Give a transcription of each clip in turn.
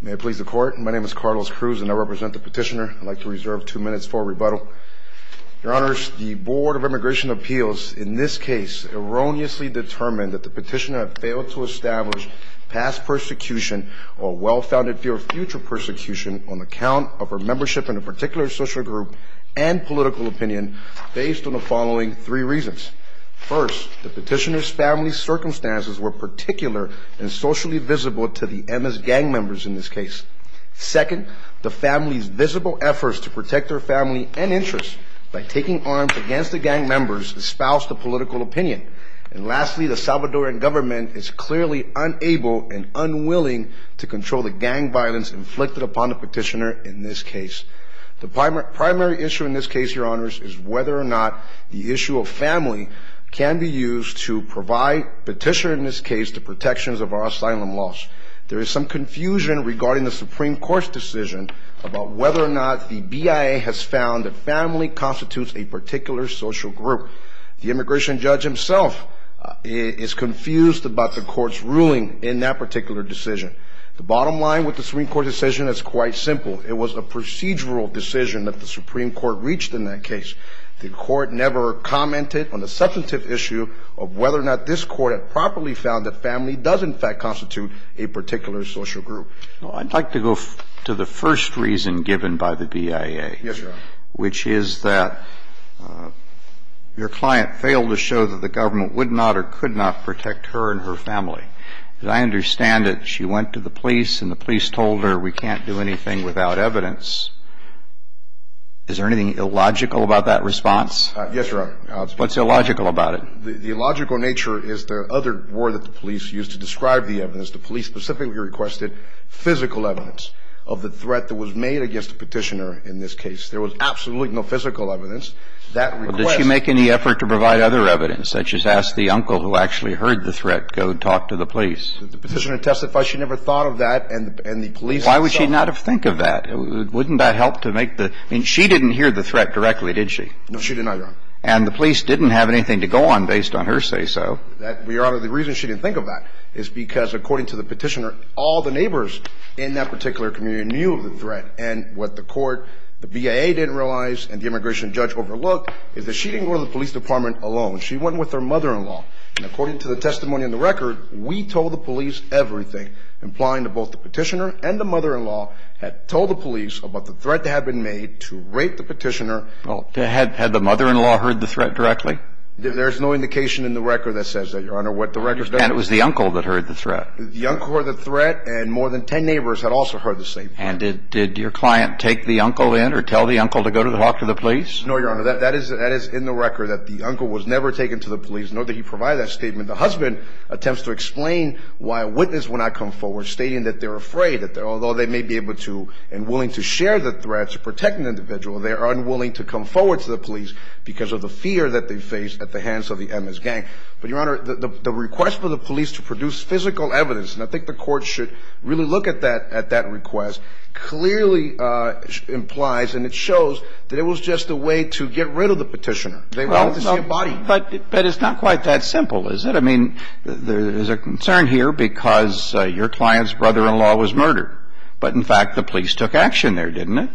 May it please the Court, my name is Carlos Cruz and I represent the petitioner. I'd like to reserve two minutes for rebuttal. Your Honors, the Board of Immigration Appeals in this case erroneously determined that the petitioner failed to establish past persecution or well-founded future persecution on account of her membership in a particular social group and political opinion based on the following three reasons. First, the petitioner's family circumstances were particular and socially visible to the MS gang members in this case. Second, the family's visible efforts to protect their family and interests by taking arms against the gang members espoused a political opinion. And lastly, the Salvadoran government is clearly unable and unwilling to control the gang violence inflicted upon the petitioner in this case. The primary issue in this case, Your Honors, is whether or not the issue of family can be used to provide petitioner, in this case, the protections of our asylum laws. There is some confusion regarding the Supreme Court's decision about whether or not the BIA has found that family constitutes a particular social group. The immigration judge himself is confused about the Court's ruling in that particular decision. The bottom line with the Supreme Court decision is quite simple. It was a procedural decision that the Supreme Court reached in that case. The Court never commented on the substantive issue of whether or not this Court had properly found that family does, in fact, constitute a particular social group. Well, I'd like to go to the first reason given by the BIA. Yes, Your Honor. Which is that your client failed to show that the government would not or could not protect her and her family. As I understand it, she went to the police and the police told her, we can't do anything without evidence. Is there anything illogical about that response? Yes, Your Honor. What's illogical about it? The illogical nature is the other word that the police used to describe the evidence. The police specifically requested physical evidence of the threat that was made against the petitioner in this case. There was absolutely no physical evidence. Well, did she make any effort to provide other evidence, such as ask the uncle who actually heard the threat, go talk to the police? The petitioner testified she never thought of that, and the police themselves. Why would she not have thought of that? Wouldn't that help to make the – I mean, she didn't hear the threat directly, did she? No, she did not, Your Honor. And the police didn't have anything to go on based on her say-so. Your Honor, the reason she didn't think of that is because, according to the petitioner, all the neighbors in that particular community knew of the threat. And what the court – the BIA didn't realize, and the immigration judge overlooked, is that she didn't go to the police department alone. She went with her mother-in-law. And according to the testimony in the record, we told the police everything, implying that both the petitioner and the mother-in-law had told the police about the threat that had been made to rape the petitioner. Well, had the mother-in-law heard the threat directly? There's no indication in the record that says that, Your Honor. What the record says – And it was the uncle that heard the threat. And did your client take the uncle in or tell the uncle to go talk to the police? No, Your Honor. That is in the record that the uncle was never taken to the police, nor did he provide that statement. The husband attempts to explain why a witness will not come forward, stating that they're afraid, that although they may be able to and willing to share the threat to protect an individual, they are unwilling to come forward to the police because of the fear that they face at the hands of the MS gang. But, Your Honor, the request for the police to produce physical evidence – and I think the court should really look at that request – clearly implies and it shows that it was just a way to get rid of the petitioner. They wanted to see a body. But it's not quite that simple, is it? I mean, there's a concern here because your client's brother-in-law was murdered. But, in fact, the police took action there, didn't they?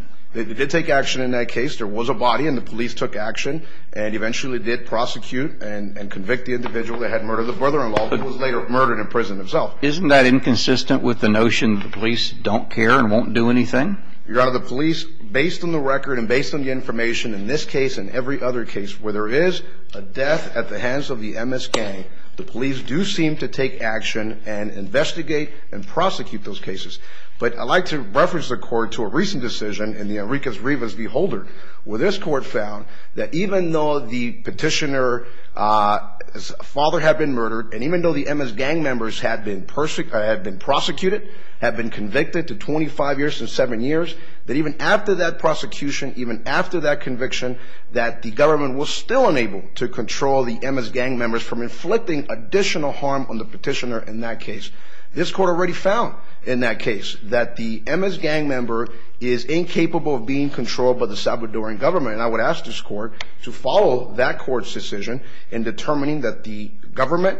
They did take action in that case. There was a body and the police took action and eventually did prosecute and convict the individual that had murdered the brother-in-law, who was later murdered in prison himself. Isn't that inconsistent with the notion that the police don't care and won't do anything? Your Honor, the police, based on the record and based on the information in this case and every other case where there is a death at the hands of the MS gang, the police do seem to take action and investigate and prosecute those cases. But I'd like to reference the court to a recent decision in Enrique Rivas v. Holder, where this court found that even though the petitioner's father had been murdered and even though the MS gang members had been prosecuted, had been convicted to 25 years and 7 years, that even after that prosecution, even after that conviction, that the government was still unable to control the MS gang members from inflicting additional harm on the petitioner in that case. This court already found in that case that the MS gang member is incapable of being controlled by the Salvadoran government. And I would ask this court to follow that court's decision in determining that the government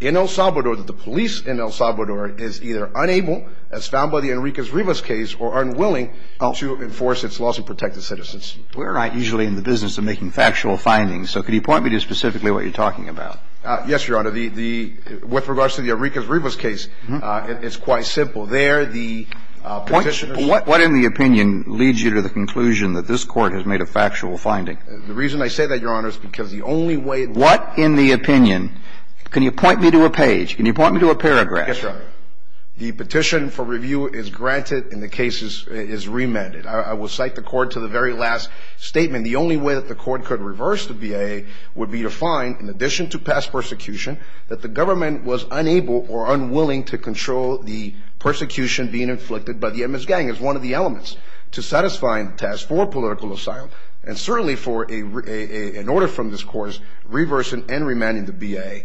in El Salvador, that the police in El Salvador, is either unable, as found by the Enrique Rivas case, or unwilling to enforce its laws and protect the citizens. We're usually in the business of making factual findings, so could you point me to specifically what you're talking about? Yes, Your Honor. With regards to the Enrique Rivas case, it's quite simple. There, the petitioner... But what in the opinion leads you to the conclusion that this court has made a factual finding? The reason I say that, Your Honor, is because the only way... What in the opinion? Can you point me to a page? Can you point me to a paragraph? Yes, Your Honor. The petition for review is granted and the case is remanded. I will cite the court to the very last statement. The only way that the court could reverse the BIA would be to find, in addition to past persecution, that the government was unable or unwilling to control the persecution being inflicted by the MS gang as one of the elements to satisfying the task for political asylum, and certainly for an order from this court reversing and remanding the BIA.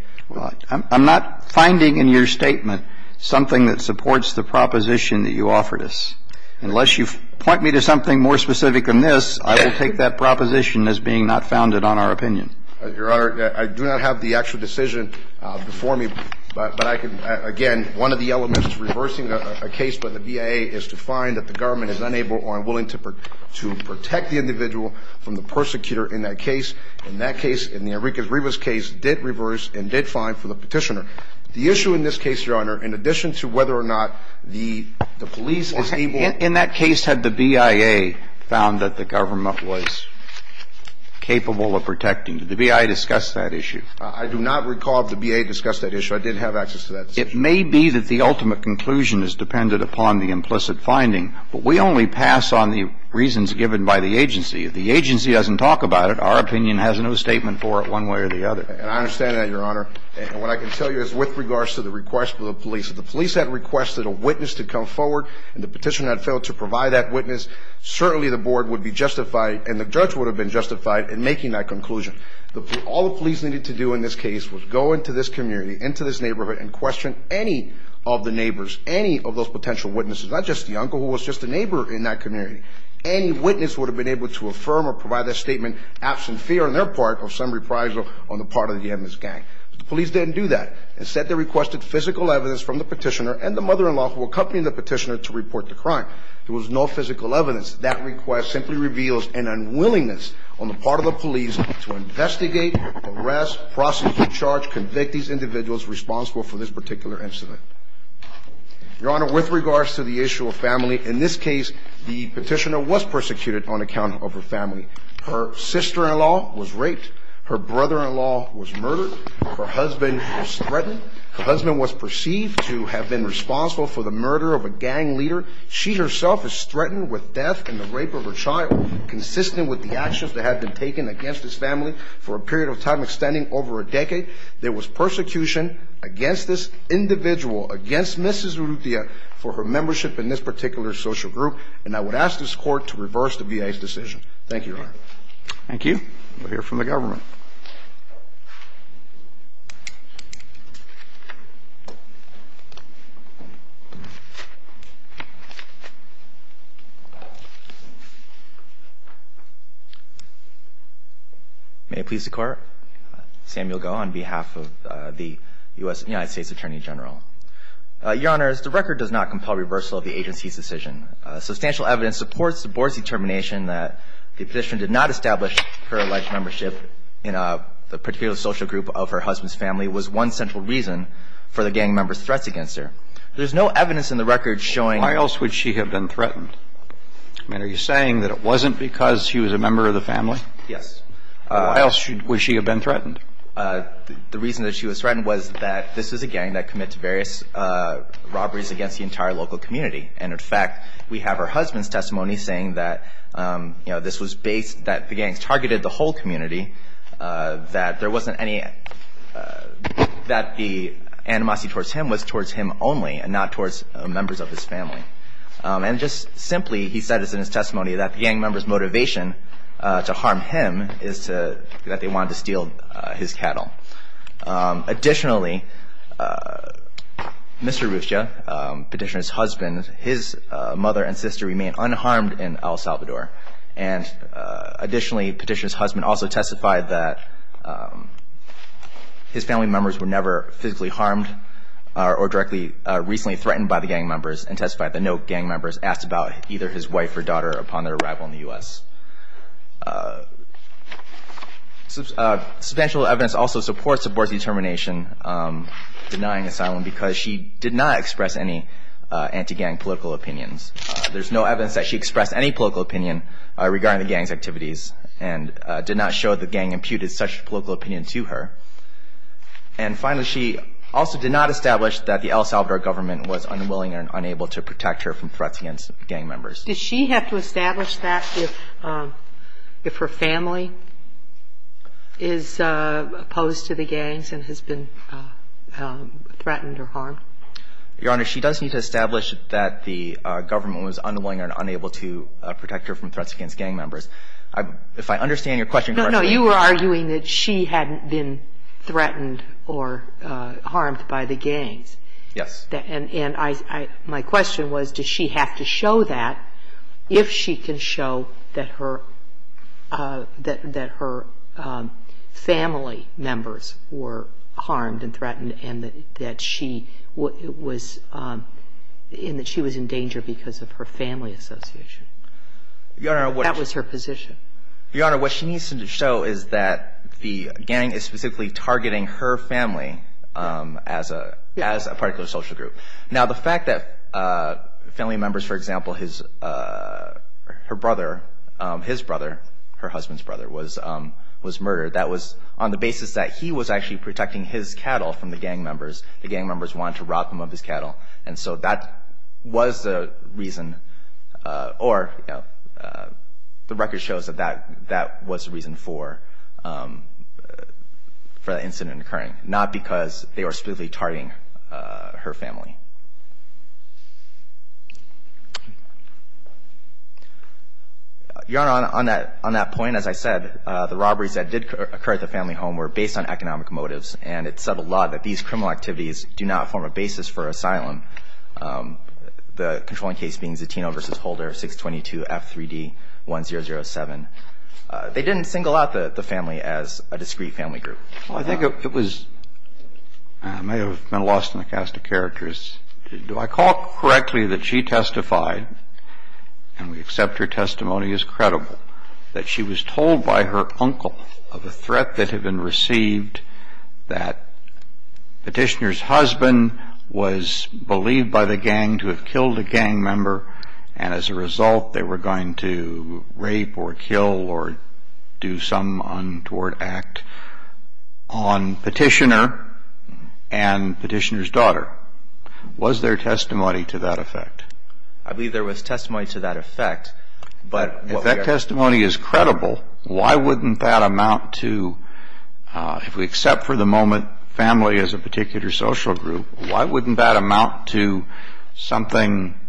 I'm not finding in your statement something that supports the proposition that you offered us. Unless you point me to something more specific than this, I will take that proposition as being not founded on our opinion. Your Honor, I do not have the actual decision before me, but I can, again, one of the elements to reversing a case by the BIA is to find that the government is unable or unwilling to protect the individual from the persecutor in that case. In that case, in Enrique Rivas' case, it did reverse and did fine for the petitioner. The issue in this case, Your Honor, in addition to whether or not the police is able... The BIA discussed that issue. I do not recall if the BIA discussed that issue. I didn't have access to that. It may be that the ultimate conclusion is dependent upon the implicit finding, but we only pass on the reasons given by the agency. If the agency doesn't talk about it, our opinion has no statement for it one way or the other. And I understand that, Your Honor. And what I can tell you is with regards to the request for the police, if the police had requested a witness to come forward and the petitioner had failed to provide that witness, certainly the board would be justified and the judge would have been justified in making that conclusion. All the police needed to do in this case was go into this community, into this neighborhood, and question any of the neighbors, any of those potential witnesses, not just the uncle who was just a neighbor in that community. Any witness would have been able to affirm or provide that statement, absent fear on their part, of some reprisal on the part of the MS gang. The police didn't do that. Instead, they requested physical evidence from the petitioner and the mother-in-law who accompanied the petitioner to report the crime. There was no physical evidence. That request simply reveals an unwillingness on the part of the police to investigate, arrest, prosecute, charge, convict these individuals responsible for this particular incident. Your Honor, with regards to the issue of family, in this case, the petitioner was persecuted on account of her family. Her sister-in-law was raped. Her brother-in-law was murdered. Her husband was threatened. Her husband was perceived to have been responsible for the murder of a gang leader. She herself was threatened with death in the rape of her child, consistent with the actions that had been taken against this family for a period of time extending over a decade. There was persecution against this individual, against Mrs. Urrutia, for her membership in this particular social group, and I would ask this Court to reverse the VA's decision. Thank you, Your Honor. Thank you. We'll hear from the government. May it please the Court. Samuel Goh on behalf of the United States Attorney General. Your Honors, the record does not compel reversal of the agency's decision. Substantial evidence supports the Board's determination that the petitioner did not establish her alleged membership in the particular social group of her husband's family was one central reason for the gang members' threats against her. There's no evidence in the record showing Why else would she have been threatened? I mean, are you saying that it wasn't because she was a member of the family? Yes. Why else would she have been threatened? The reason that she was threatened was that this was a gang that committed various robberies against the entire local community. And, in fact, we have her husband's testimony saying that, you know, this was based, that the gangs targeted the whole community, that there wasn't any, that the animosity towards him was towards him only and not towards members of his family. And just simply, he said this in his testimony, that the gang members' motivation to harm him is that they wanted to steal his cattle. Additionally, Mr. Ruscha, petitioner's husband, his mother and sister remained unharmed in El Salvador. And, additionally, petitioner's husband also testified that his family members were never physically harmed or directly recently threatened by the gang members and testified that no gang members asked about either his wife or daughter upon their arrival in the U.S. Substantial evidence also supports the board's determination denying asylum because she did not express any anti-gang political opinions. There's no evidence that she expressed any political opinion regarding the gang's activities and did not show the gang imputed such political opinion to her. And, finally, she also did not establish that the El Salvador government was unwilling and unable to protect her from threats against gang members. Did she have to establish that if her family is opposed to the gangs and has been threatened or harmed? Your Honor, she does need to establish that the government was unwilling and unable to protect her from threats against gang members. If I understand your question correctly — No, no. You were arguing that she hadn't been threatened or harmed by the gangs. Yes. And I — my question was, does she have to show that if she can show that her — that her family members were harmed and threatened and that she was — and that she was in danger because of her family association? Your Honor, what — That was her position. Your Honor, what she needs to show is that the gang is specifically targeting her family as a particular social group. Now, the fact that family members, for example, his — her brother — his brother, her husband's brother, was murdered, that was on the basis that he was actually protecting his cattle from the gang members. The gang members wanted to rob him of his cattle. And so that was the reason — or, you know, the record shows that that was the reason for the incident occurring, not because they were specifically targeting her family. Your Honor, on that point, as I said, the robberies that did occur at the family home were based on economic motives, and it's said a lot that these criminal activities do not form a basis for asylum, the controlling case being Zatino v. Holder, 622F3D1007. They didn't single out the family as a discrete family group. Well, I think it was — may have been lost in the cast of characters. Do I call it correctly that she testified, and we accept her testimony as credible, that she was told by her uncle of a threat that had been received, that Petitioner's husband was believed by the gang to have killed a gang member, and as a result they were going to rape or kill or do some untoward act on Petitioner and Petitioner's daughter? Was there testimony to that effect? I believe there was testimony to that effect, but what we are — If that testimony is credible, why wouldn't that amount to — if we accept for the moment family as a particular social group, why wouldn't that amount to something —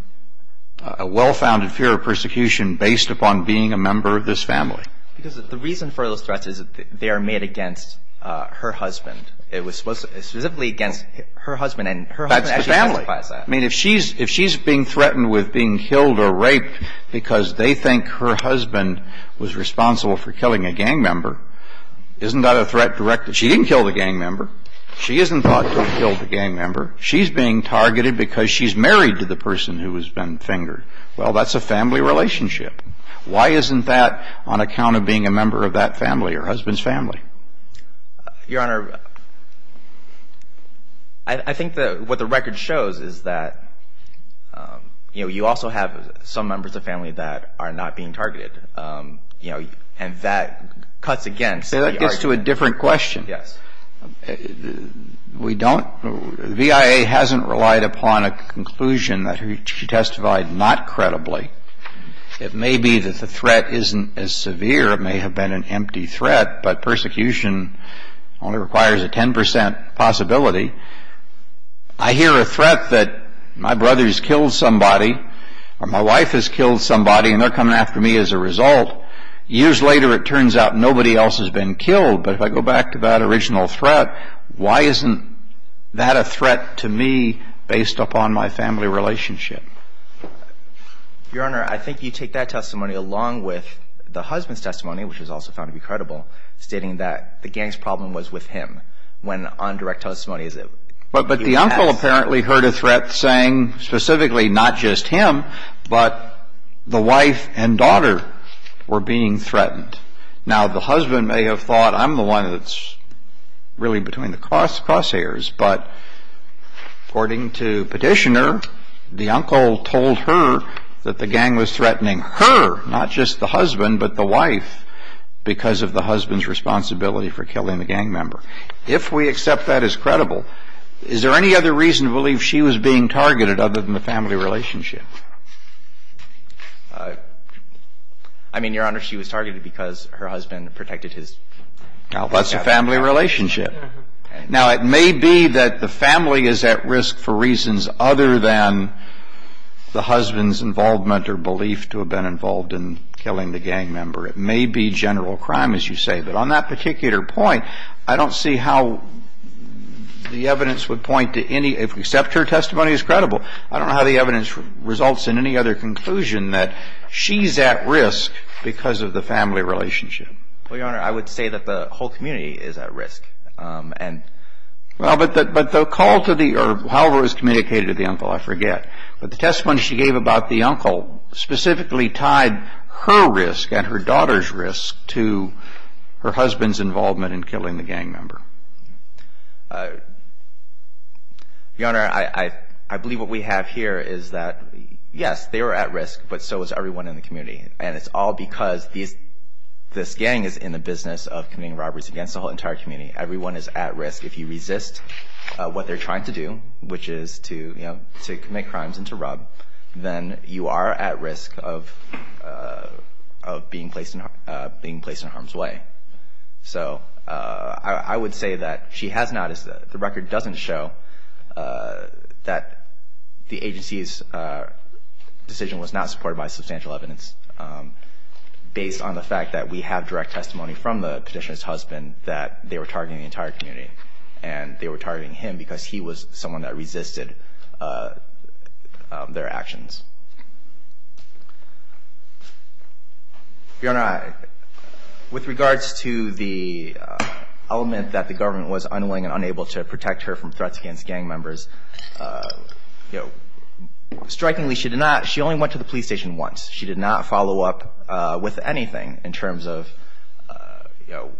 a well-founded fear of persecution based upon being a member of this family? Because the reason for those threats is that they are made against her husband. It was specifically against her husband, and her husband actually testified to that. That's the family. I mean, if she's being threatened with being killed or raped because they think her husband was responsible for killing a gang member, isn't that a threat directed — She didn't kill the gang member. She isn't thought to have killed the gang member. She's being targeted because she's married to the person who has been fingered. Well, that's a family relationship. Why isn't that on account of being a member of that family or her husband's family? Your Honor, I think what the record shows is that you also have some members of the family that are not being targeted, and that cuts against — It comes to a different question. Yes. We don't — the V.I.A. hasn't relied upon a conclusion that she testified not credibly. It may be that the threat isn't as severe. It may have been an empty threat, but persecution only requires a 10 percent possibility. I hear a threat that my brother's killed somebody or my wife has killed somebody, and they're coming after me as a result. Years later, it turns out nobody else has been killed. But if I go back to that original threat, why isn't that a threat to me based upon my family relationship? Your Honor, I think you take that testimony along with the husband's testimony, which was also found to be credible, stating that the gang's problem was with him. When on direct testimony, is it — But the uncle apparently heard a threat saying specifically not just him, but the wife and daughter were being threatened. Now, the husband may have thought, I'm the one that's really between the crosshairs, but according to Petitioner, the uncle told her that the gang was threatening her, not just the husband, but the wife, because of the husband's responsibility for killing the gang member. If we accept that as credible, is there any other reason to believe she was being targeted other than the family relationship? I mean, Your Honor, she was targeted because her husband protected his family. Well, that's a family relationship. Now, it may be that the family is at risk for reasons other than the husband's involvement or belief to have been involved in killing the gang member. It may be general crime, as you say. But on that particular point, I don't see how the evidence would point to any — if we accept her testimony as credible, I don't know how the evidence results in any other conclusion that she's at risk because of the family relationship. Well, Your Honor, I would say that the whole community is at risk, and — Well, but the call to the — or however it was communicated to the uncle, I forget. But the testimony she gave about the uncle specifically tied her risk and her daughter's risk to her husband's involvement in killing the gang member. Your Honor, I believe what we have here is that, yes, they were at risk, but so was everyone in the community. And it's all because this gang is in the business of committing robberies against the whole entire community. Everyone is at risk. If you resist what they're trying to do, which is to, you know, to commit crimes and to rob, then you are at risk of being placed in harm's way. So I would say that she has not — the record doesn't show that the agency's decision was not supported by substantial evidence based on the fact that we have direct testimony from the petitioner's husband that they were targeting the entire community. And they were targeting him because he was someone that resisted their actions. Your Honor, with regards to the element that the government was unwilling and unable to protect her from threats against gang members, you know, strikingly, she did not — she only went to the police station once. She did not follow up with anything in terms of, you know,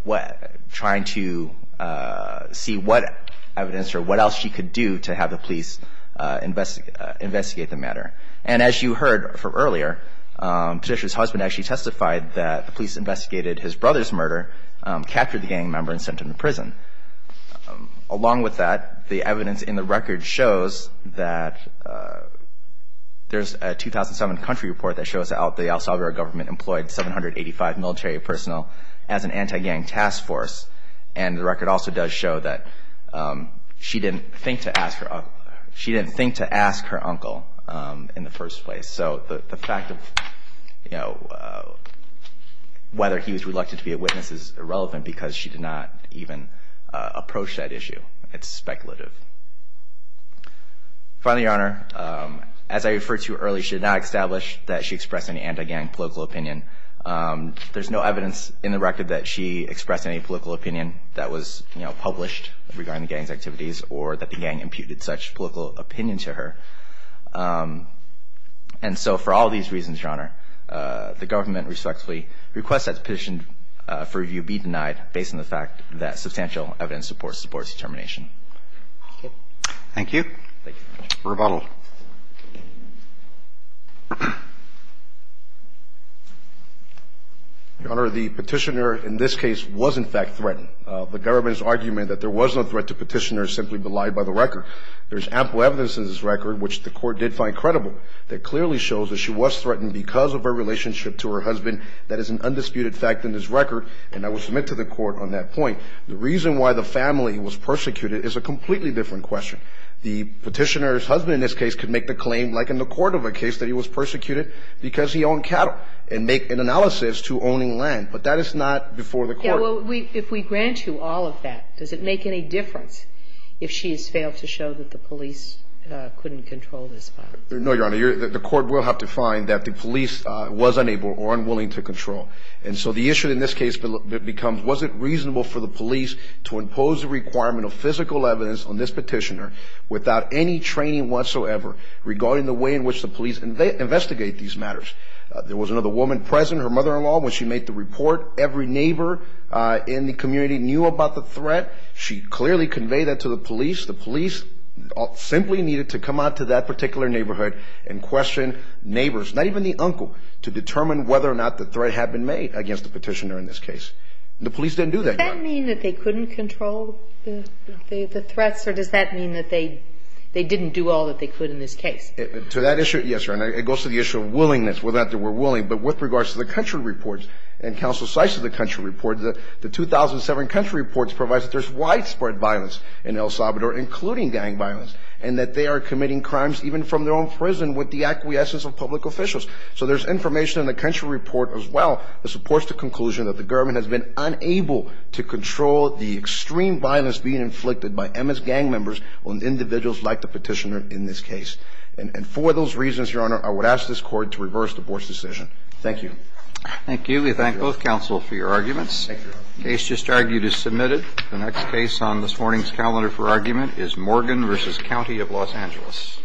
trying to see what evidence or what else she could do to have the police investigate the matter. And as you heard from earlier, petitioner's husband actually testified that the police investigated his brother's murder, captured the gang member, and sent him to prison. Along with that, the evidence in the record shows that there's a 2007 country report that shows how the El Salvador government employed 785 military personnel as an anti-gang task force. And the record also does show that she didn't think to ask her uncle in the first place. So the fact of, you know, whether he was reluctant to be a witness is irrelevant because she did not even approach that issue. It's speculative. Finally, Your Honor, as I referred to earlier, she did not establish that she expressed any anti-gang political opinion. There's no evidence in the record that she expressed any political opinion that was, you know, published regarding the gang's activities or that the gang imputed such political opinion to her. And so for all these reasons, Your Honor, the government respectfully requests that the petition for review be denied based on the fact that substantial evidence supports determination. Thank you. Thank you. Rebuttal. Your Honor, the petitioner in this case was, in fact, threatened. The government's argument that there was no threat to petitioner is simply belied by the record. There's ample evidence in this record, which the Court did find credible, that clearly shows that she was threatened because of her relationship to her husband. That is an undisputed fact in this record. And I will submit to the Court on that point. The reason why the family was persecuted is a completely different question. The petitioner's husband in this case could make the claim, like in the Cordova case, that he was persecuted because he owned cattle and make an analysis to owning land. But that is not before the Court. Well, if we grant you all of that, does it make any difference if she has failed to show that the police couldn't control this violence? No, Your Honor. The Court will have to find that the police was unable or unwilling to control. And so the issue in this case becomes, was it reasonable for the police to impose a requirement of physical evidence on this petitioner without any training whatsoever regarding the way in which the police investigate these matters? There was another woman present, her mother-in-law, when she made the report. Every neighbor in the community knew about the threat. She clearly conveyed that to the police. The police simply needed to come out to that particular neighborhood and question neighbors, not even the uncle, to determine whether or not the threat had been made against the petitioner in this case. The police didn't do that, Your Honor. Does that mean that they couldn't control the threats, or does that mean that they didn't do all that they could in this case? To that issue, yes, Your Honor. It goes to the issue of willingness, whether or not they were willing. But with regards to the country reports and counsel's sites of the country reports, the 2007 country reports provide that there's widespread violence in El Salvador, including gang violence, and that they are committing crimes even from their own prison with the acquiescence of public officials. So there's information in the country report as well that supports the conclusion that the government has been unable to control the extreme violence being inflicted by MS gang members on individuals like the petitioner in this case. And for those reasons, Your Honor, I would ask this Court to reverse the Board's decision. Thank you. Thank you. We thank both counsel for your arguments. The case just argued is submitted. The next case on this morning's calendar for argument is Morgan v. County of Los Angeles.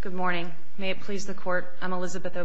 Good morning. May it please the Court, I'm Elizabeth O'Brien.